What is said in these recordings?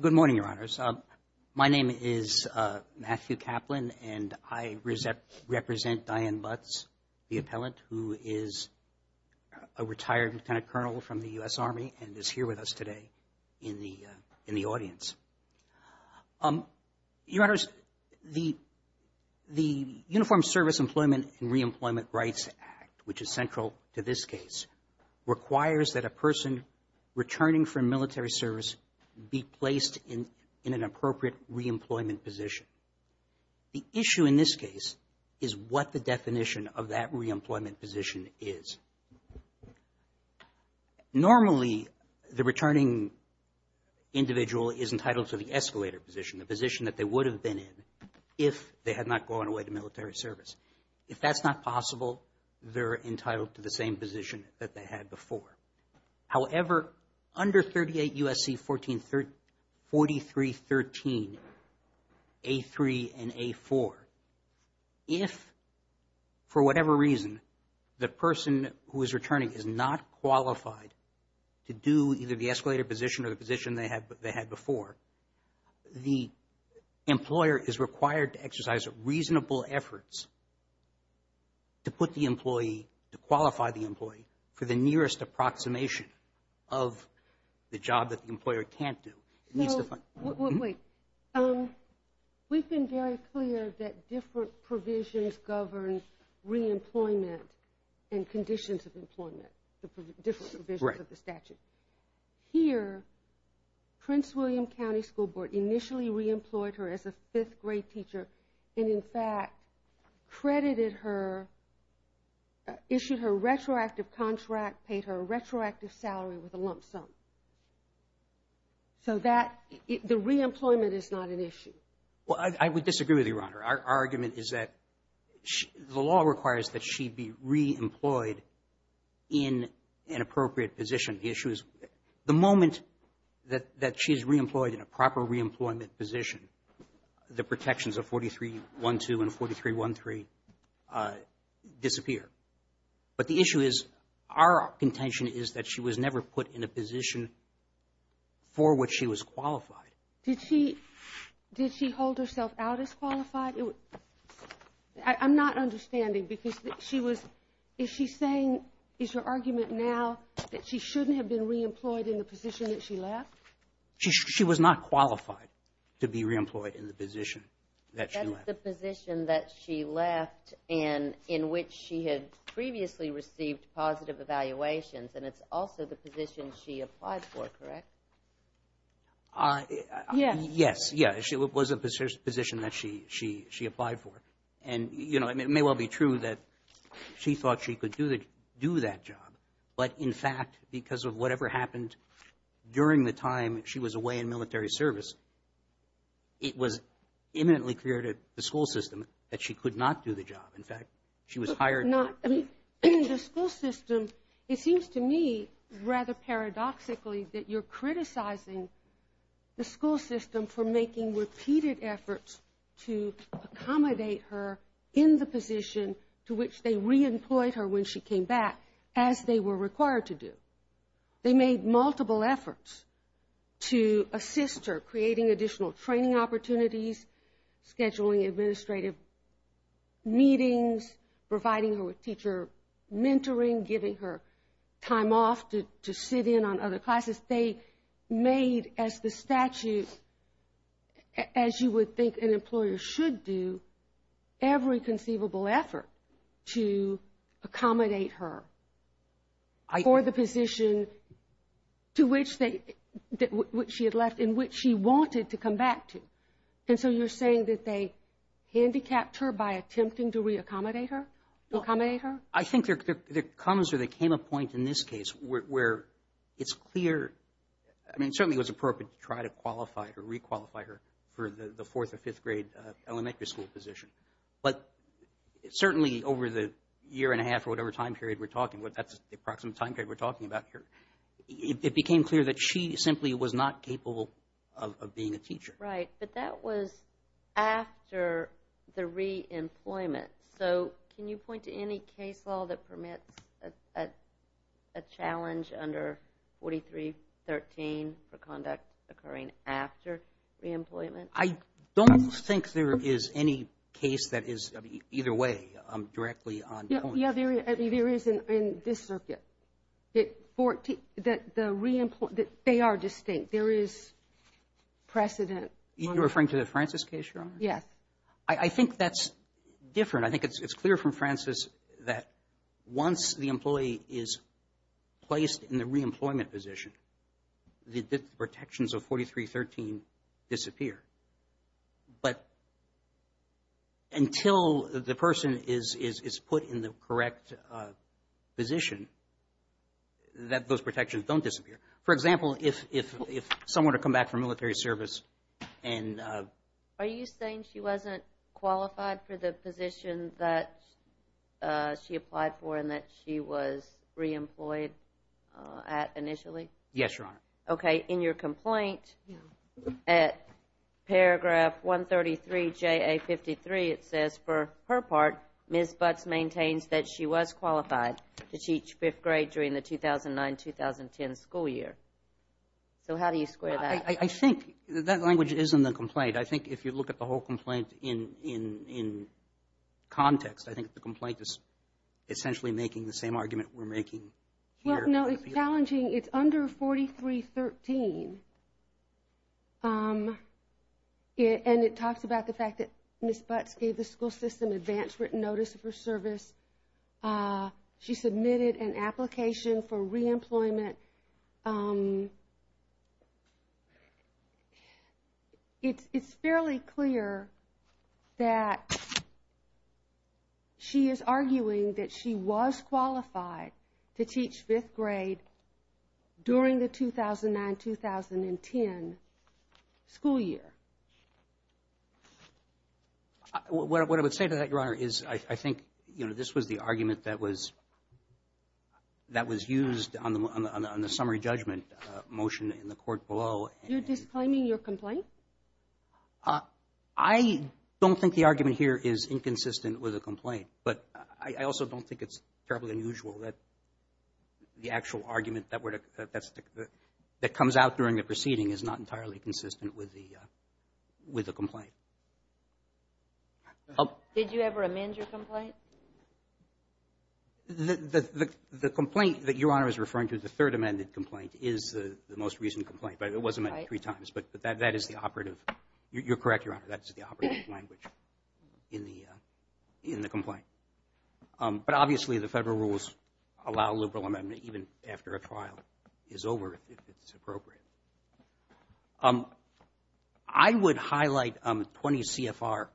Good morning, Your Honors. My name is Matthew Kaplan, and I represent Dianne Butts, the appellant, who is a retired Lieutenant Colonel from the U.S. Army and is here with us today in the audience. Your Honors, the Uniformed Service Employment and Reemployment Rights Act, which is central to this case, requires that a person returning from military service be placed in an appropriate reemployment position. The issue in this case is what the definition of that reemployment position is. Normally, the returning individual is entitled to the escalator position, the position that they would have been in if they had not gone away to military service. If that's not possible, they're entitled to the same position that they had before. However, under 38 U.S.C. 4313, A3 and A4, if, for whatever reason, the person who is returning is not qualified to do either the escalator position or the position they had before, the employer is required to exercise reasonable efforts to put the employee, to qualify the employee for the nearest approximation of the job that the employer can't do. It needs to find... Wait. We've been very clear that different provisions govern reemployment and conditions of employment, the different provisions of the statute. Here, Prince William County School Board initially reemployed her as a fifth-grade teacher and, in fact, credited her, issued her retroactive contract, paid her a retroactive salary with a lump sum. So that, the reemployment is not an issue. Well, I would disagree with you, Your Honor. Our argument is that the law requires that she be reemployed in an appropriate position. The issue is, the moment that she's reemployed in a proper reemployment position, the protections of 4312 and 4313 disappear. But the issue is, our contention is that she was never put in a position for which she was qualified. Did she hold herself out as qualified? I'm not understanding, because she was, is she saying, is her argument now that she shouldn't have been reemployed in the position that she left? She was not qualified to be reemployed in the position that she left. That's the position that she left in, in which she had previously received positive evaluations, and it's also the position she applied for, correct? Yes. Yes, yes, it was a position that she applied for. And, you know, it may well be true that she thought she could do that job. But, in fact, because of whatever happened during the time she was away in military service, it was imminently clear to the school system that she could not do the job. In fact, she was hired. Not, I mean, the school system, it seems to me rather paradoxically that you're criticizing the school system for making repeated efforts to accommodate her in the position to which they reemployed her when she came back, as they were required to do. They made multiple efforts to assist her, creating additional training opportunities, scheduling administrative meetings, providing her with teacher mentoring, giving her time off to sit in on other classes. They made, as the statute, as you would think an employer should do, every conceivable effort to accommodate her for the position to which she had left, in which she wanted to come back to. And so you're saying that they handicapped her by attempting to reaccommodate her, accommodate her? I think there comes or there came a point in this case where it's clear. I mean, certainly it was appropriate to try to qualify or requalify her for the fourth or fifth grade elementary school position. But certainly over the year and a half or whatever time period we're talking, that's the approximate time period we're talking about here, it became clear that she simply was not capable of being a teacher. Right. But that was after the reemployment. So can you point to any case law that permits a challenge under 4313 for conduct occurring after reemployment? I don't think there is any case that is either way directly on point. Yeah, there is in this circuit. The reemployment, they are distinct. There is precedent. You're referring to the Francis case, Your Honor? Yes. I think that's different. I think it's clear from Francis that once the employee is placed in the reemployment position, the protections of 4313 disappear. But until the person is put in the correct position, that those protections don't disappear. For example, if someone were to come back from military service and... Are you saying she wasn't qualified for the position that she applied for and that she was reemployed at initially? Yes, Your Honor. Okay. In your complaint at paragraph 133JA53, it says, for her part, Ms. Butts maintains that she was qualified to teach fifth grade during the 2009-2010 school year. So how do you square that? I think that language is in the complaint. I think if you look at the whole complaint in context, I think the complaint is essentially making the same argument we're making here. No, it's challenging. It's under 4313. And it talks about the fact that Ms. Butts gave the school system advance written notice of her service. She submitted an application for reemployment. And it's fairly clear that she is arguing that she was qualified to teach fifth grade during the 2009-2010 school year. What I would say to that, Your Honor, is I think this was the argument that was used on the summary judgment motion in the court below. You're disclaiming your complaint? I don't think the argument here is inconsistent with the complaint. But I also don't think it's terribly unusual that the actual argument that comes out during the proceeding is not entirely consistent with the complaint. Did you ever amend your complaint? The complaint that Your Honor is referring to, the third amended complaint, is the most recent complaint. But it was amended three times. But that is the operative. You're correct, Your Honor. That is the operative language in the complaint. But obviously the federal rules allow a liberal amendment even after a trial is over if it's appropriate. I would highlight 20 CFR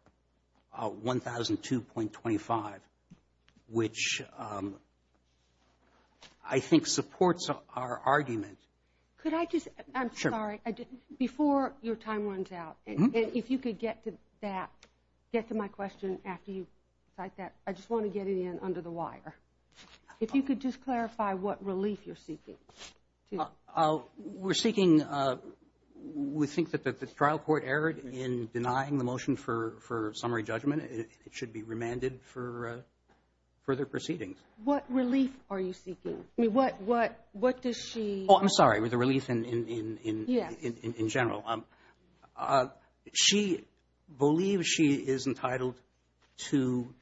1002.25, which I think supports our argument. Could I just, I'm sorry, before your time runs out, if you could get to that, get to my question after you cite that. I just want to get it in under the wire. If you could just clarify what relief you're seeking. We're seeking, we think that the trial court erred in denying the motion for summary judgment. It should be remanded for further proceedings. What relief are you seeking? What does she? Oh, I'm sorry, the relief in general. She believes she is entitled to,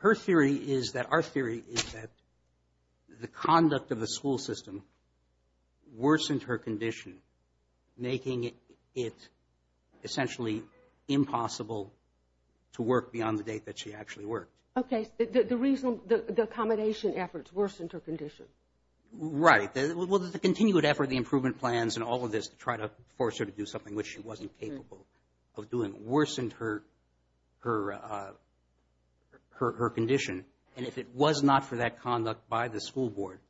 her theory is that, our theory is that the conduct of the school system worsened her condition, making it essentially impossible to work beyond the date that she actually worked. Okay. The reason, the accommodation efforts worsened her condition. Right. Well, the continued effort, the improvement plans and all of this to try to force her to do something which she wasn't capable of doing, worsened her condition. And if it was not for that conduct by the school board,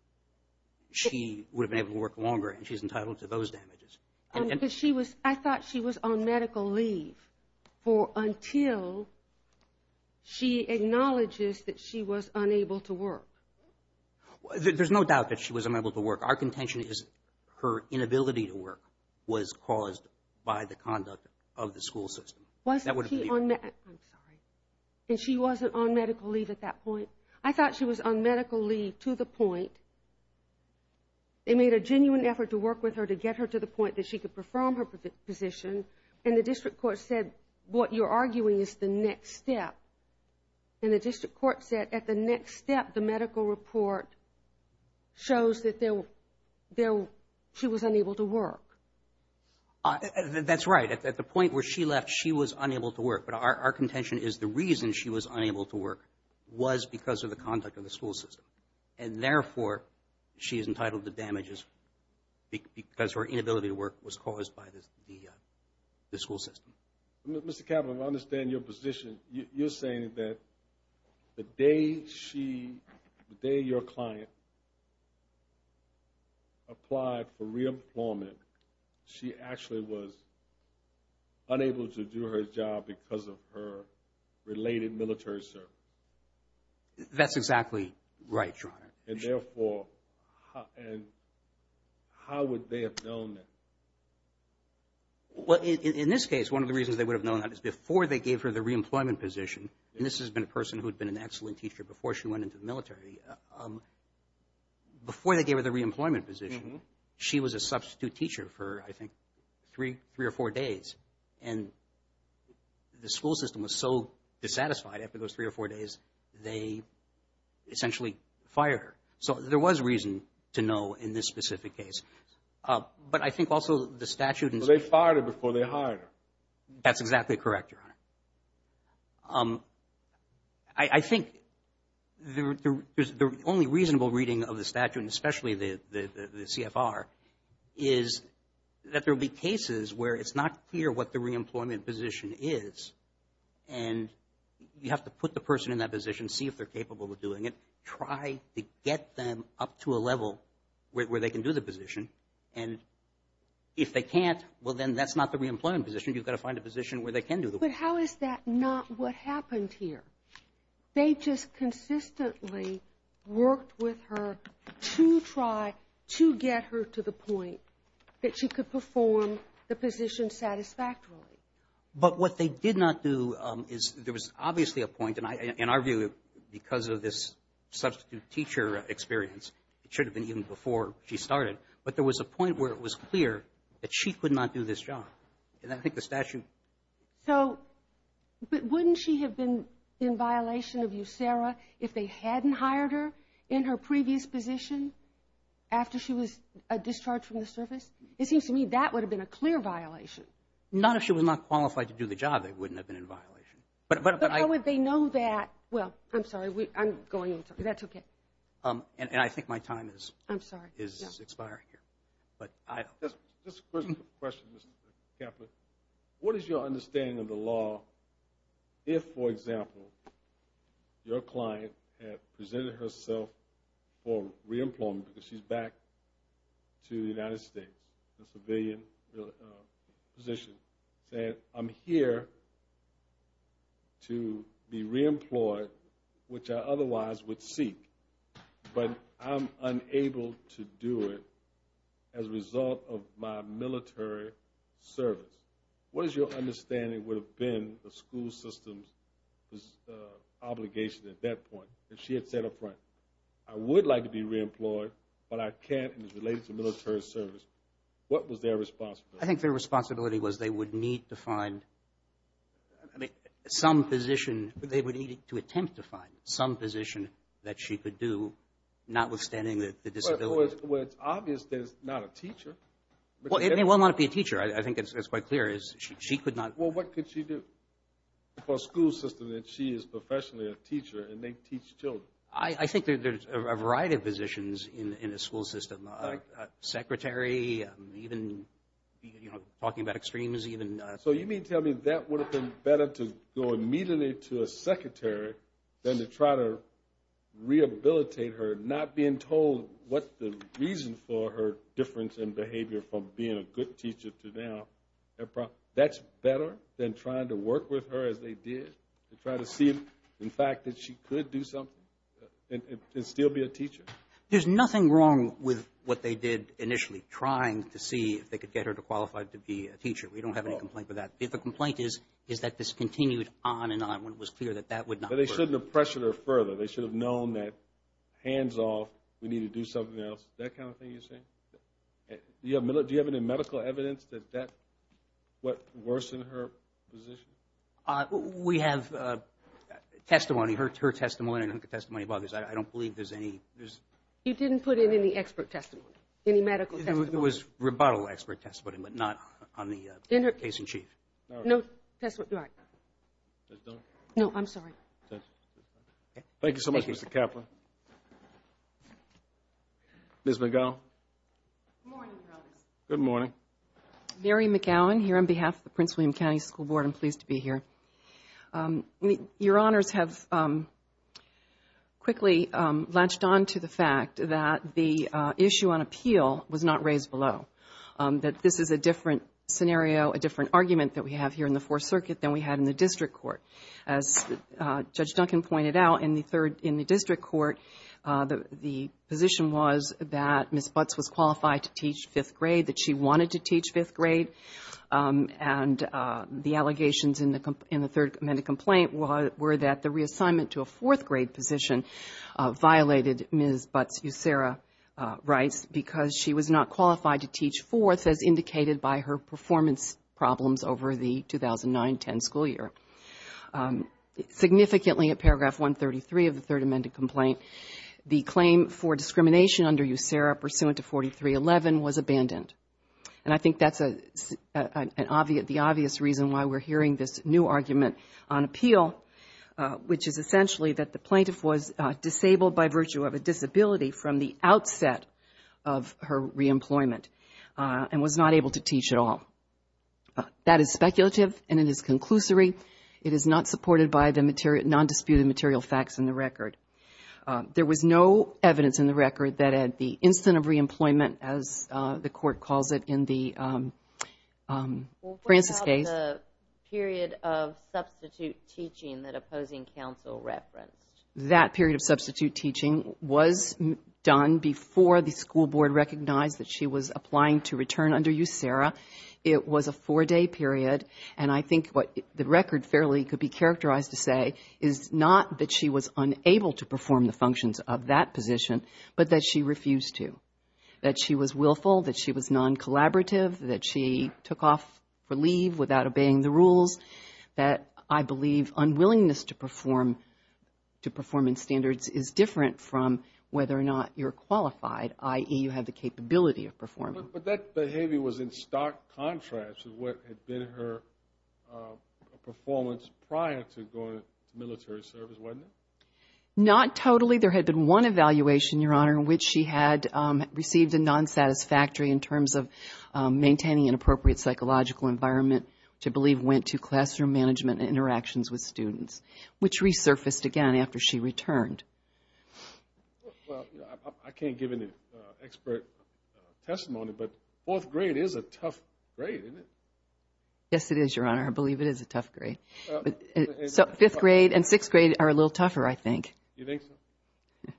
she would have been able to work longer, and she's entitled to those damages. I thought she was on medical leave until she acknowledges that she was unable to work. There's no doubt that she was unable to work. Our contention is her inability to work was caused by the conduct of the school system. I'm sorry. And she wasn't on medical leave at that point? I thought she was on medical leave to the point. They made a genuine effort to work with her to get her to the point that she could perform her position, and the district court said what you're arguing is the next step. And the district court said at the next step, the medical report shows that she was unable to work. That's right. At the point where she left, she was unable to work. But our contention is the reason she was unable to work was because of the conduct of the school system. And, therefore, she is entitled to damages because her inability to work was caused by the school system. Mr. Cavanaugh, I understand your position. You're saying that the day she, the day your client applied for reemployment, she actually was unable to do her job because of her related military service. That's exactly right, Your Honor. And, therefore, how would they have known that? Well, in this case, one of the reasons they would have known that is before they gave her the reemployment position, and this has been a person who had been an excellent teacher before she went into the military, before they gave her the reemployment position, she was a substitute teacher for, I think, three or four days. And the school system was so dissatisfied after those three or four days, they essentially fired her. So there was reason to know in this specific case. But I think also the statute and so on. But they fired her before they hired her. That's exactly correct, Your Honor. I think the only reasonable reading of the statute, and especially the CFR, is that there will be cases where it's not clear what the reemployment position is, and you have to put the person in that position, see if they're capable of doing it, try to get them up to a level where they can do the position. And if they can't, well, then that's not the reemployment position. You've got to find a position where they can do the work. But how is that not what happened here? They just consistently worked with her to try to get her to the point that she could perform the position satisfactorily. But what they did not do is there was obviously a point, and in our view because of this substitute teacher experience, it should have been even before she started, but there was a point where it was clear that she could not do this job. And I think the statute... So wouldn't she have been in violation of USERRA if they hadn't hired her in her previous position after she was discharged from the service? It seems to me that would have been a clear violation. Not if she was not qualified to do the job, they wouldn't have been in violation. But how would they know that? Well, I'm sorry, I'm going on. That's okay. And I think my time is expiring here. Just a question, Mr. Kaplan. What is your understanding of the law if, for example, your client had presented herself for re-employment because she's back to the United States, a civilian position, that I'm here to be re-employed, which I otherwise would seek, but I'm unable to do it as a result of my military service? What is your understanding would have been the school system's obligation at that point if she had said up front, I would like to be re-employed, but I can't, and it's related to military service. What was their responsibility? I think their responsibility was they would need to find some position. They would need to attempt to find some position that she could do, notwithstanding the disability. Well, it's obvious that it's not a teacher. Well, it may well not be a teacher. I think that's quite clear. She could not. Well, what could she do? For a school system that she is professionally a teacher and they teach children. I think there's a variety of positions in a school system, a secretary, even talking about extremes even. So you mean to tell me that would have been better to go immediately to a secretary than to try to rehabilitate her, not being told what the reason for her difference in behavior from being a good teacher to now. That's better than trying to work with her as they did to try to see, in fact, that she could do something and still be a teacher? There's nothing wrong with what they did initially, trying to see if they could get her to qualify to be a teacher. We don't have any complaint with that. The complaint is that this continued on and on when it was clear that that would not work. But they shouldn't have pressured her further. They should have known that, hands off, we need to do something else, that kind of thing you're saying? Do you have any medical evidence that that worsened her position? We have testimony, her testimony and her testimony about this. I don't believe there's any. You didn't put in any expert testimony, any medical testimony? It was rebuttal expert testimony, but not on the case in chief. No, I'm sorry. Thank you so much, Mr. Kaplan. Ms. McGowan? Good morning. Good morning. Mary McGowan here on behalf of the Prince William County School Board. I'm pleased to be here. Your Honors have quickly latched on to the fact that the issue on appeal was not raised below, that this is a different scenario, a different argument that we have here in the Fourth Circuit than we had in the district court. As Judge Duncan pointed out, in the district court, the position was that Ms. Butts was qualified to teach fifth grade, that she wanted to teach fifth grade, and the allegations in the Third Amendment complaint were that the reassignment to a fourth grade position violated Ms. Butts' USERRA rights because she was not qualified to teach fourth, as indicated by her performance problems over the 2009-10 school year. Significantly, at paragraph 133 of the Third Amendment complaint, the claim for discrimination under USERRA pursuant to 4311 was abandoned. And I think that's the obvious reason why we're hearing this new argument on appeal, which is essentially that the plaintiff was disabled by virtue of a disability from the outset of her reemployment and was not able to teach at all. That is speculative and it is conclusory. It is not supported by the nondisputed material facts in the record. There was no evidence in the record that at the instant of reemployment, as the court calls it in the Francis case. What about the period of substitute teaching that opposing counsel referenced? That period of substitute teaching was done before the school board recognized that she was applying to return under USERRA. It was a four-day period, and I think what the record fairly could be characterized to say is not that she was unable to perform the functions of that position, but that she refused to, that she was willful, that she was non-collaborative, that she took off for leave without obeying the rules, that I believe unwillingness to perform in standards is different from whether or not you're qualified, i.e., you have the capability of performing. But that behavior was in stark contrast to what had been her performance prior to going into military service, wasn't it? Not totally. There had been one evaluation, Your Honor, in which she had received a non-satisfactory in terms of maintaining an appropriate psychological environment, which I believe went to classroom management and interactions with students, which resurfaced again after she returned. Well, I can't give any expert testimony, but fourth grade is a tough grade, isn't it? Yes, it is, Your Honor. I believe it is a tough grade. So fifth grade and sixth grade are a little tougher, I think. You think so?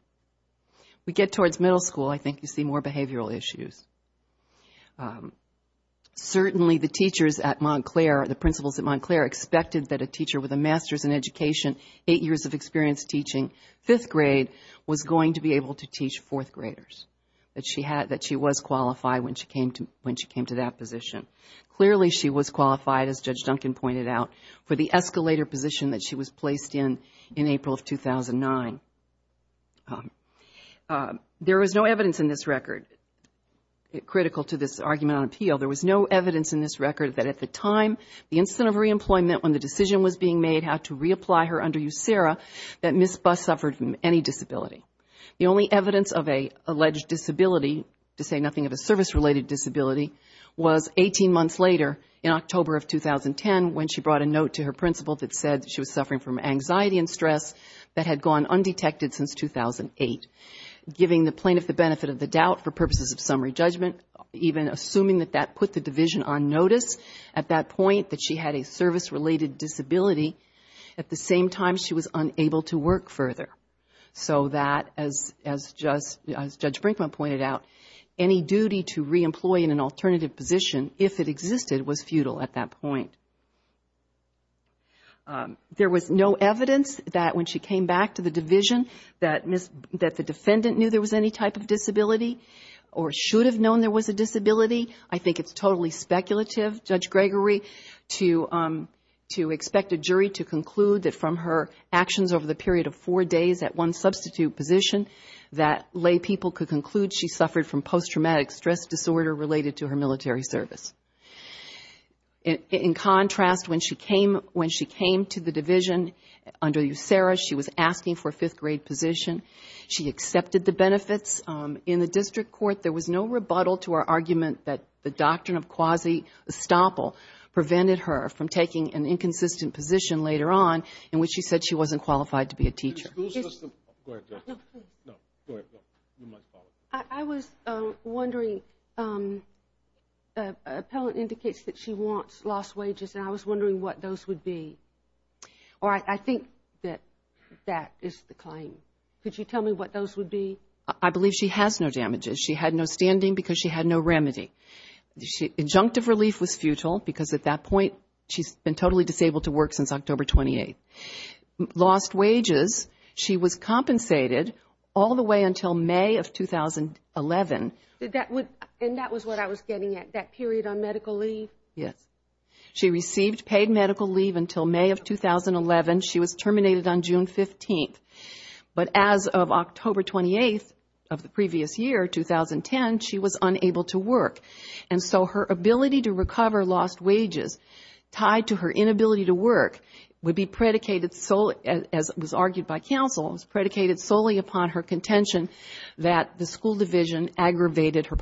We get towards middle school, I think you see more behavioral issues. Certainly the teachers at Montclair, the principals at Montclair, expected that a teacher with a master's in education, eight years of experience teaching fifth grade, was going to be able to teach fourth graders, that she was qualified when she came to that position. Clearly she was qualified, as Judge Duncan pointed out, for the escalator position that she was placed in in April of 2009. There was no evidence in this record, critical to this argument on appeal, there was no evidence in this record that at the time, the incident of reemployment, when the decision was being made how to reapply her under USERRA, that Ms. Buss suffered from any disability. The only evidence of an alleged disability, to say nothing of a service-related disability, was 18 months later in October of 2010, when she brought a note to her principal that said she was suffering from anxiety and stress that had gone undetected since 2008. Giving the plaintiff the benefit of the doubt for purposes of summary judgment, even assuming that that put the division on notice at that point, that she had a service-related disability, at the same time she was unable to work further. So that, as Judge Brinkman pointed out, any duty to reemploy in an alternative position, if it existed, was futile at that point. There was no evidence that when she came back to the division, that the defendant knew there was any type of disability, or should have known there was a disability. I think it's totally speculative, Judge Gregory, to expect a jury to conclude that from her actions over the period of four days at one substitute position, that lay people could conclude she suffered from post-traumatic stress disorder related to her military service. In contrast, when she came to the division under USERRA, she was asking for a fifth-grade position, she accepted the benefits. In the district court, there was no rebuttal to her argument that the doctrine of quasi-estoppel prevented her from taking an inconsistent position later on, in which she said she wasn't qualified to be a teacher. I was wondering, an appellant indicates that she lost wages, and I was wondering what those would be. Or I think that that is the claim. Could you tell me what those would be? I believe she has no damages. She had no standing because she had no remedy. Adjunctive relief was futile, because at that point she's been totally disabled to work since October 28th. Lost wages, she was compensated all the way until May of 2011. And that was what I was getting at, that period on medical leave? Yes. She received paid medical leave until May of 2011. She was terminated on June 15th. But as of October 28th of the previous year, 2010, she was unable to work. And so her ability to recover lost wages tied to her inability to work would be predicated solely, as was argued by counsel, predicated solely upon her contention that the school division aggravated her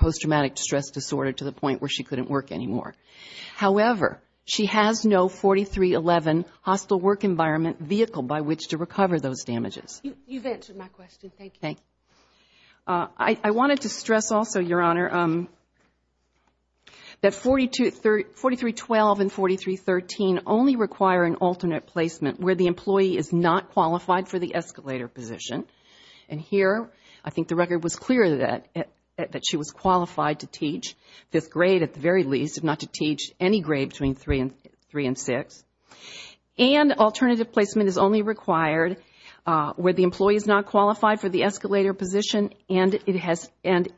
However, she has no 4311 hostile work environment vehicle by which to recover those damages. You've answered my question. Thank you. I wanted to stress also, Your Honor, that 4312 and 4313 only require an alternate placement where the employee is not qualified for the escalator position. And here I think the record was clear that she was qualified to teach fifth grade at the very least, if not to teach any grade between three and six. And alternative placement is only required where the employee is not qualified for the escalator position and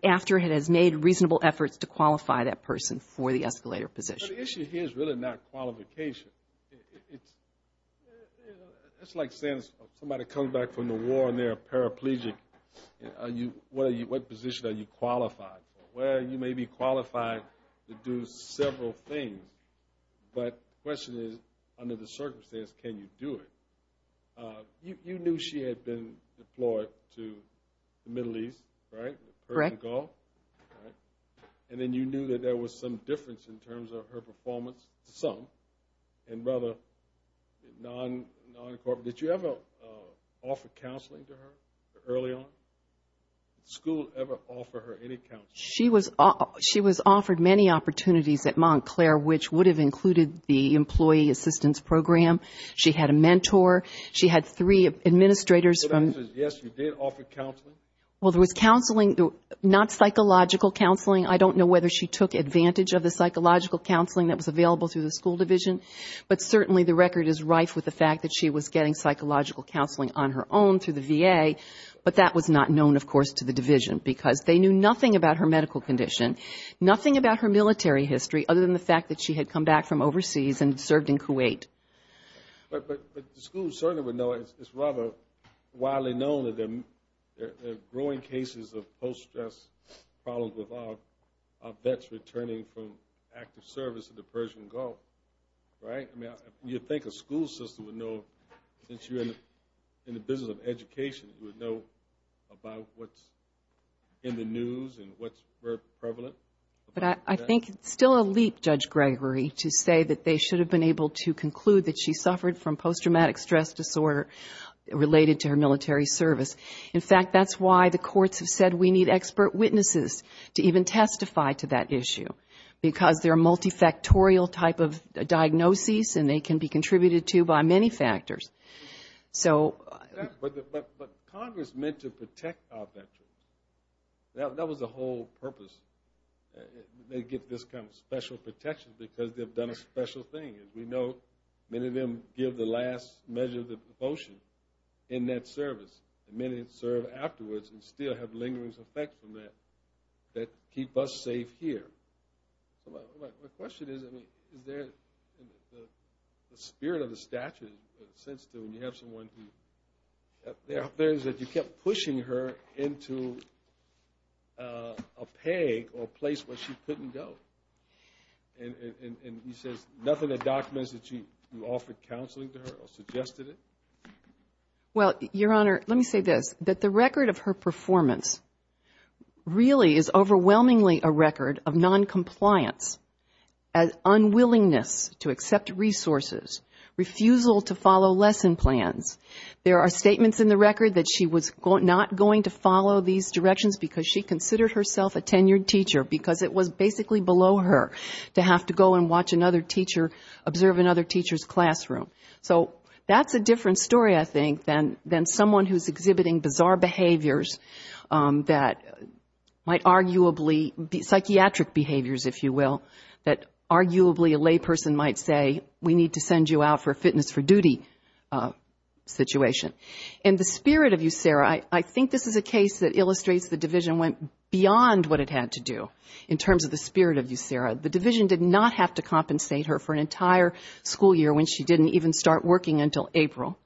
after it has made reasonable efforts to qualify that person for the escalator position. But the issue here is really not qualification. It's like saying somebody comes back from the war and they're a paraplegic. What position are you qualified for? Well, you may be qualified to do several things. But the question is, under the circumstances, can you do it? You knew she had been deployed to the Middle East, right? Correct. And then you knew that there was some difference in terms of her performance, some, and rather non-corporate. Did you ever offer counseling to her early on? Did the school ever offer her any counseling? She was offered many opportunities at Montclair, which would have included the employee assistance program. She had a mentor. She had three administrators. Yes, you did offer counseling. Well, there was counseling, not psychological counseling. I don't know whether she took advantage of the psychological counseling that was available through the school division. But certainly the record is rife with the fact that she was getting psychological counseling on her own through the VA. But that was not known, of course, to the division, because they knew nothing about her medical condition, nothing about her military history, other than the fact that she had come back from overseas and served in Kuwait. But the school certainly would know. It's rather widely known that there are growing cases of post-stress problems with our vets returning from active service in the Persian Gulf. You'd think a school system would know, since you're in the business of education, would know about what's in the news and what's prevalent. But I think it's still a leap, Judge Gregory, to say that they should have been able to conclude that she suffered from post-traumatic stress disorder related to her military service. In fact, that's why the courts have said we need expert witnesses to even testify to that issue, because they're multifactorial type of diagnoses, and they can be contributed to by many factors. But Congress meant to protect our veterans. That was the whole purpose, to get this kind of special protection, because they've done a special thing. As we know, many of them give the last measure of devotion in that service. Many serve afterwards and still have lingering effects from that that keep us safe here. My question is, is there, in the spirit of the statute, a sense that when you have someone who, there's that you kept pushing her into a peg or a place where she couldn't go. And he says nothing that documents that you offered counseling to her or suggested it? Well, Your Honor, let me say this. That the record of her performance really is overwhelmingly a record of noncompliance, unwillingness to accept resources, refusal to follow lesson plans. There are statements in the record that she was not going to follow these directions, because she considered herself a tenured teacher, because it was basically below her to have to go and watch another teacher, observe another teacher's classroom. So that's a different story, I think, than someone who's exhibiting bizarre behaviors that might arguably be psychiatric behaviors, if you will, that arguably a layperson might say, we need to send you out for a fitness for duty situation. In the spirit of USERA, I think this is a case that illustrates the division went beyond what it had to do, in terms of the spirit of USERA. It didn't even start working until April.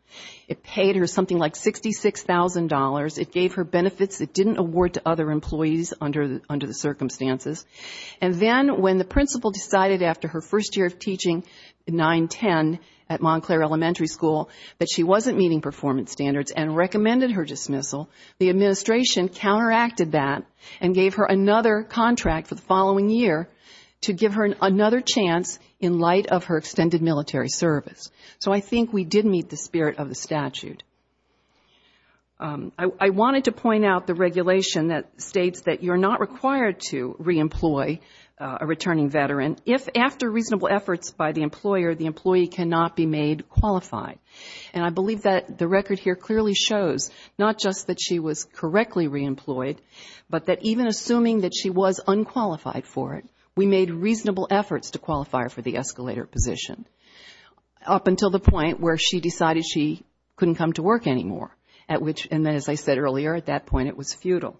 It paid her something like $66,000. It gave her benefits it didn't award to other employees under the circumstances. And then when the principal decided after her first year of teaching, 9-10, at Montclair Elementary School, that she wasn't meeting performance standards and recommended her dismissal, the administration counteracted that and gave her another contract for the following year to give her another chance in light of her extended military service. So I think we did meet the spirit of the statute. I wanted to point out the regulation that states that you're not required to reemploy a returning veteran if after reasonable efforts by the employer, the employee cannot be made qualified. And I believe that the record here clearly shows not just that she was correctly reemployed, but that even assuming that she was unqualified for it, we made reasonable efforts to qualify her for the escalator position, up until the point where she decided she couldn't come to work anymore. And as I said earlier, at that point it was futile.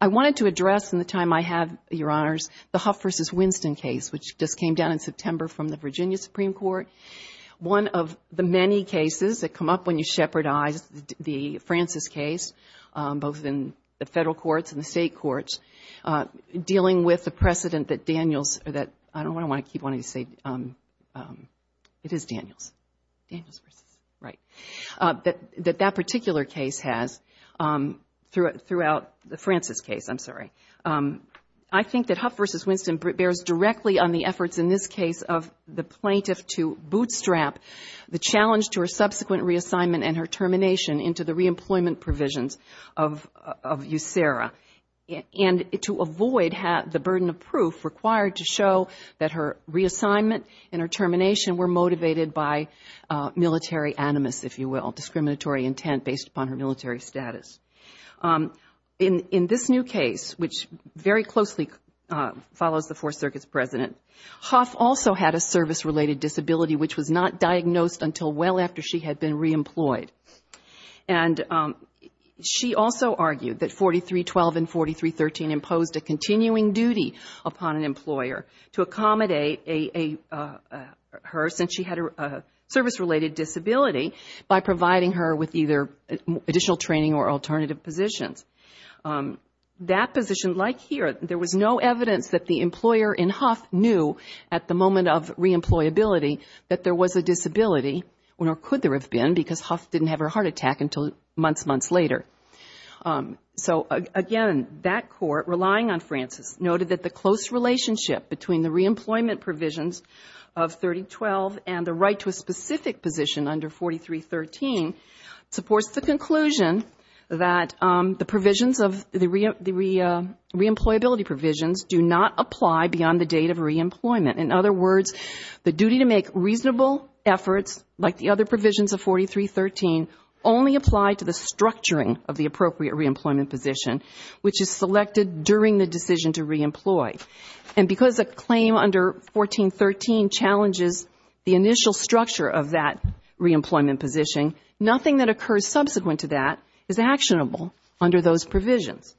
I wanted to address in the time I have, Your Honors, the Huff v. Winston case, which just came down in September from the Virginia Supreme Court. One of the many cases that come up when you shepherdize the Francis case, both in the federal courts and the state courts, dealing with the precedent that Daniels, or that, I don't want to keep wanting to say, it is Daniels. Right. That that particular case has, throughout the Francis case, I'm sorry. I think that Huff v. Winston bears directly on the efforts in this case of the plaintiff to bootstrap the challenge to her subsequent reassignment and her termination into the reemployment provisions of USERRA. And to avoid the burden of proof required to show that her reassignment and her termination were motivated by military animus, if you will, discriminatory intent based upon her military status. In this new case, which very closely follows the Fourth Circuit's precedent, Huff also had a service-related disability which was not diagnosed until well after she had been reemployed. And she also argued that 4312 and 4313 imposed a continuing duty upon an employer to accommodate her, since she had a service-related disability, by providing her with either additional training or alternative positions. That position, like here, there was no evidence that the employer in Huff knew at the moment of reemployability that there was a disability, nor could there have been, because Huff didn't have her heart attack until months, months later. So, again, that court, relying on Francis, noted that the close relationship between the reemployment provisions of 3012 and the right to a specific position under 4313 supports the conclusion that the provisions of the reemployability provisions do not apply beyond the date of reemployment. In other words, the duty to make reasonable efforts, like the other provisions of 4313, only apply to the structuring of the appropriate reemployment position, which is selected during the decision to reemploy. And because a claim under 1413 challenges the initial structure of that reemployment position, nothing that occurs subsequent to that is actionable under those provisions.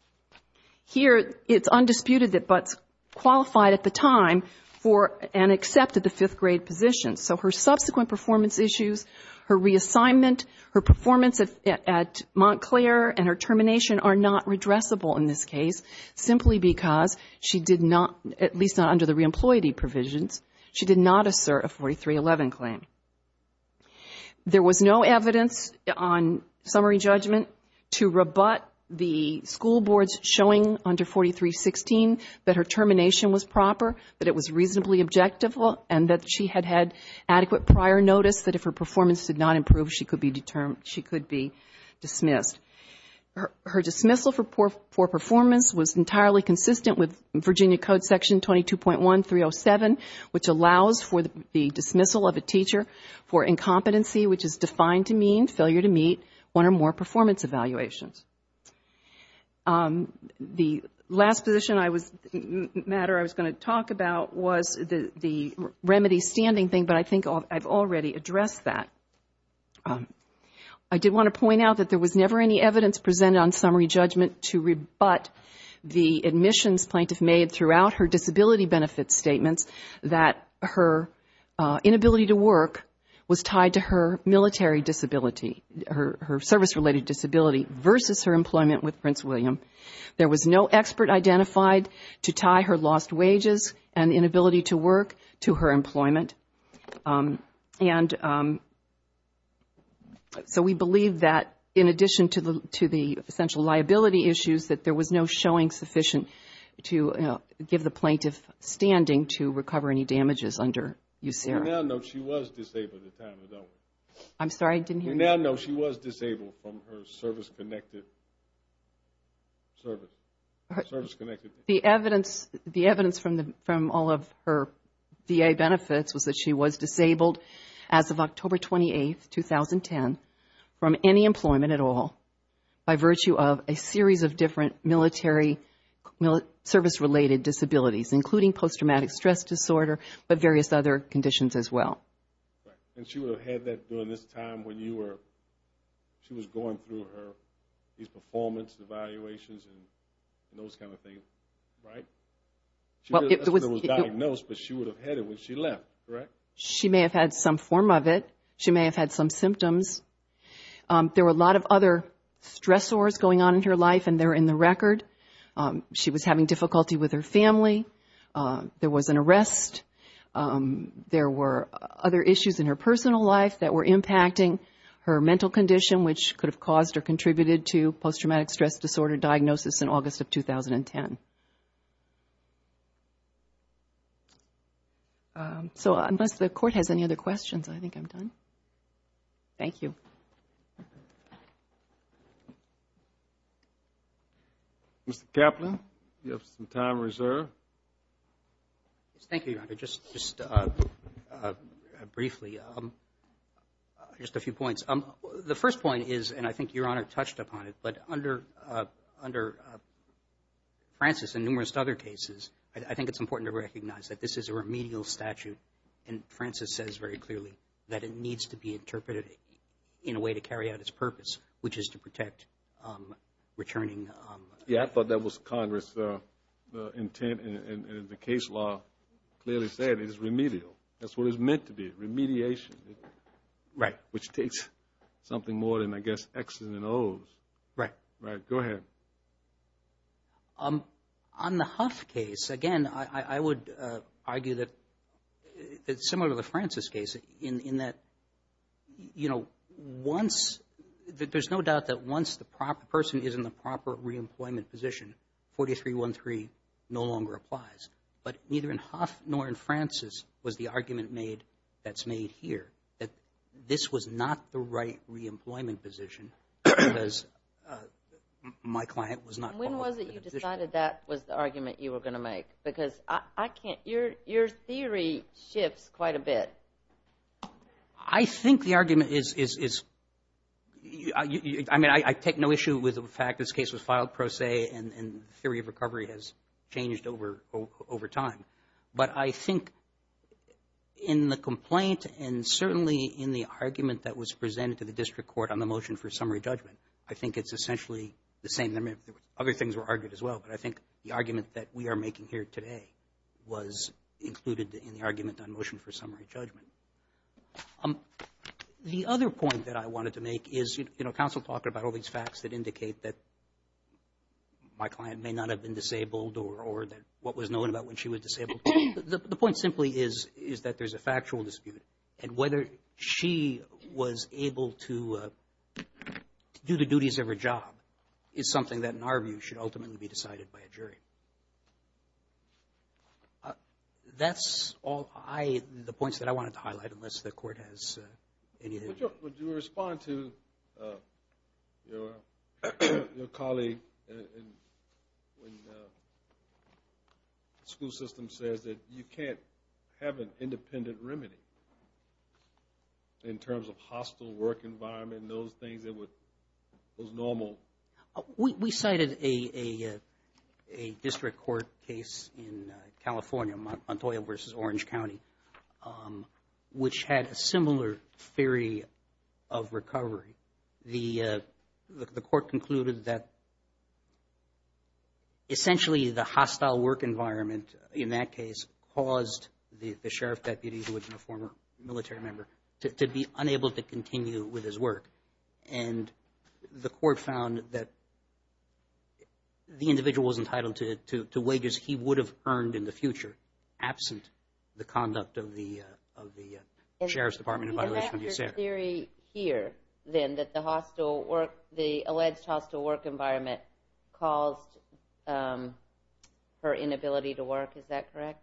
Here, it's undisputed that Butts qualified at the time for and accepted the fifth-grade position. So her subsequent performance issues, her reassignment, her performance at Montclair, and her termination are not redressable in this case, simply because she did not, at least not under the reemployment provisions, she did not assert a 4311 claim. There was no evidence on summary judgment to rebut the school boards showing under 4316 that her termination was proper, that it was reasonably objective, and that she had had adequate prior notice that if her performance did not improve, she could be dismissed. Her dismissal for performance was entirely consistent with Virginia Code Section 22.1307, which allows for the dismissal of a teacher for incompetency, which is defined to mean failure to meet one or more performance evaluations. The last position matter I was going to talk about was the remedy standing thing, but I think I've already addressed that. I did want to point out that there was never any evidence presented on summary judgment to rebut the admissions plaintiff made throughout her disability benefits statements that her inability to work was tied to her military disability, her service-related disability versus her employment with Prince William. There was no expert identified to tie her lost wages and inability to work to her employment. And so we believe that in addition to the essential liability issues, that there was no showing sufficient to give the plaintiff standing to recover any damages under USERRA. We now know she was disabled at the time of that one. We now know she was disabled from her service-connected service. The evidence from all of her VA benefits was that she was disabled as of October 28, 2010 from any employment at all, by virtue of a series of different military service-related disabilities, including post-traumatic stress disorder, but various other conditions as well. Right. And she would have had that during this time when you were, she was going through her, these performance evaluations and those kind of things, right? She wasn't diagnosed, but she would have had it when she left, correct? She may have had some form of it. She may have had some symptoms. There were a lot of other stressors going on in her life, and they're in the record. She was having difficulty with her family. There was an arrest. There were other issues in her personal life that were impacting her mental condition, which could have caused or contributed to post-traumatic stress disorder diagnosis in August of 2010. So unless the Court has any other questions, I think I'm done. Thank you. Mr. Kaplan, you have some time reserved. Thank you, Your Honor. Just briefly, just a few points. The first point is, and I think Your Honor touched upon it, but under Francis and numerous other cases, I think it's important to recognize that this is a remedial statute, and Francis says very clearly that it needs to be interpreted in a way to carry out its purpose, which is to protect returning. Yes, I thought that was Congress' intent, and the case law clearly said it is remedial. That's what it's meant to be, remediation. Right. Which takes something more than, I guess, X's and O's. Right. Go ahead. On the Huff case, again, I would argue that it's similar to the Francis case, in that there's no doubt that once the person is in the proper reemployment position, 4313 no longer applies. But neither in Huff nor in Francis was the argument made that's made here, that this was not the right reemployment position, because my client was not qualified. And when was it you decided that was the argument you were going to make? Because I can't, your theory shifts quite a bit. I think the argument is, I mean, I take no issue with the fact this case was filed pro se, and the theory of recovery has changed over time. But I think in the complaint, and certainly in the argument that was presented to the district court on the motion for summary judgment, I think it's essentially the same. Other things were argued as well, but I think the argument that we are making here today was included in the argument on motion for summary judgment. The other point that I wanted to make is, you know, counsel talked about all these facts that indicate that my client may not have been disabled or that what was known about when she was disabled. The point simply is that there's a factual dispute, and whether she was able to do the duties of her job is something that in our view should ultimately be decided by a jury. That's all I, the points that I wanted to highlight, unless the court has anything. Would you respond to your colleague when the school system says that you can't have an independent remedy in terms of hostile work environment and those things that was normal? We cited a district court case in California, Montoya versus Orange County, which had a similar theory of recovery. The court concluded that essentially the hostile work environment in that case caused the sheriff deputy, who had been a former military member, to be unable to continue with his work. And the court found that the individual was entitled to wages he would have earned in the future, absent the conduct of the sheriff's department. And is that your theory here, then, that the alleged hostile work environment caused her inability to work, is that correct?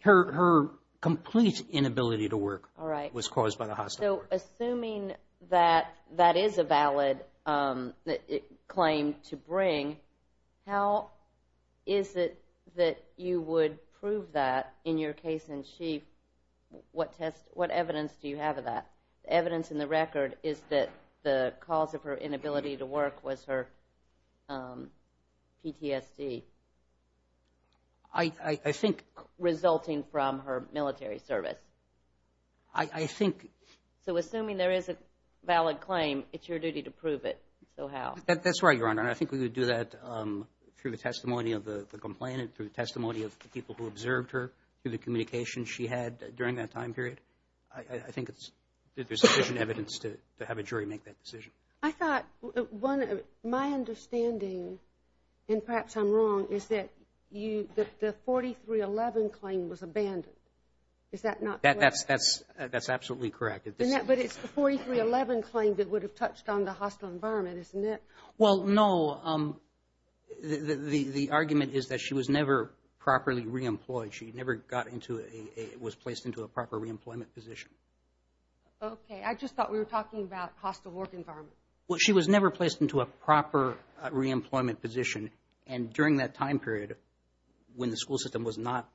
Her complete inability to work was caused by the hostile work. So assuming that that is a valid claim to bring, how is it that you would prove that in your case in chief? What evidence do you have of that? The evidence in the record is that the cause of her inability to work was her PTSD. Resulting from her military service. So assuming there is a valid claim, it's your duty to prove it, so how? That's right, Your Honor. I think we would do that through the testimony of the complainant, through the testimony of the people who observed her, through the communication she had during that time period. I think there's sufficient evidence to have a jury make that decision. My understanding, and perhaps I'm wrong, is that the 4311 claim was abandoned. Is that not correct? That's absolutely correct. But it's the 4311 claim that would have touched on the hostile environment, isn't it? Well, no, the argument is that she was never properly reemployed. She never got into a, was placed into a proper reemployment position. Okay, I just thought we were talking about hostile work environment. Well, she was never placed into a proper reemployment position, and during that time period, when the school system was not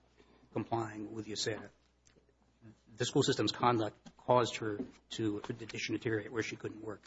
complying with UCEDD, the school system's conduct caused her to deteriorate where she couldn't work. Thank you.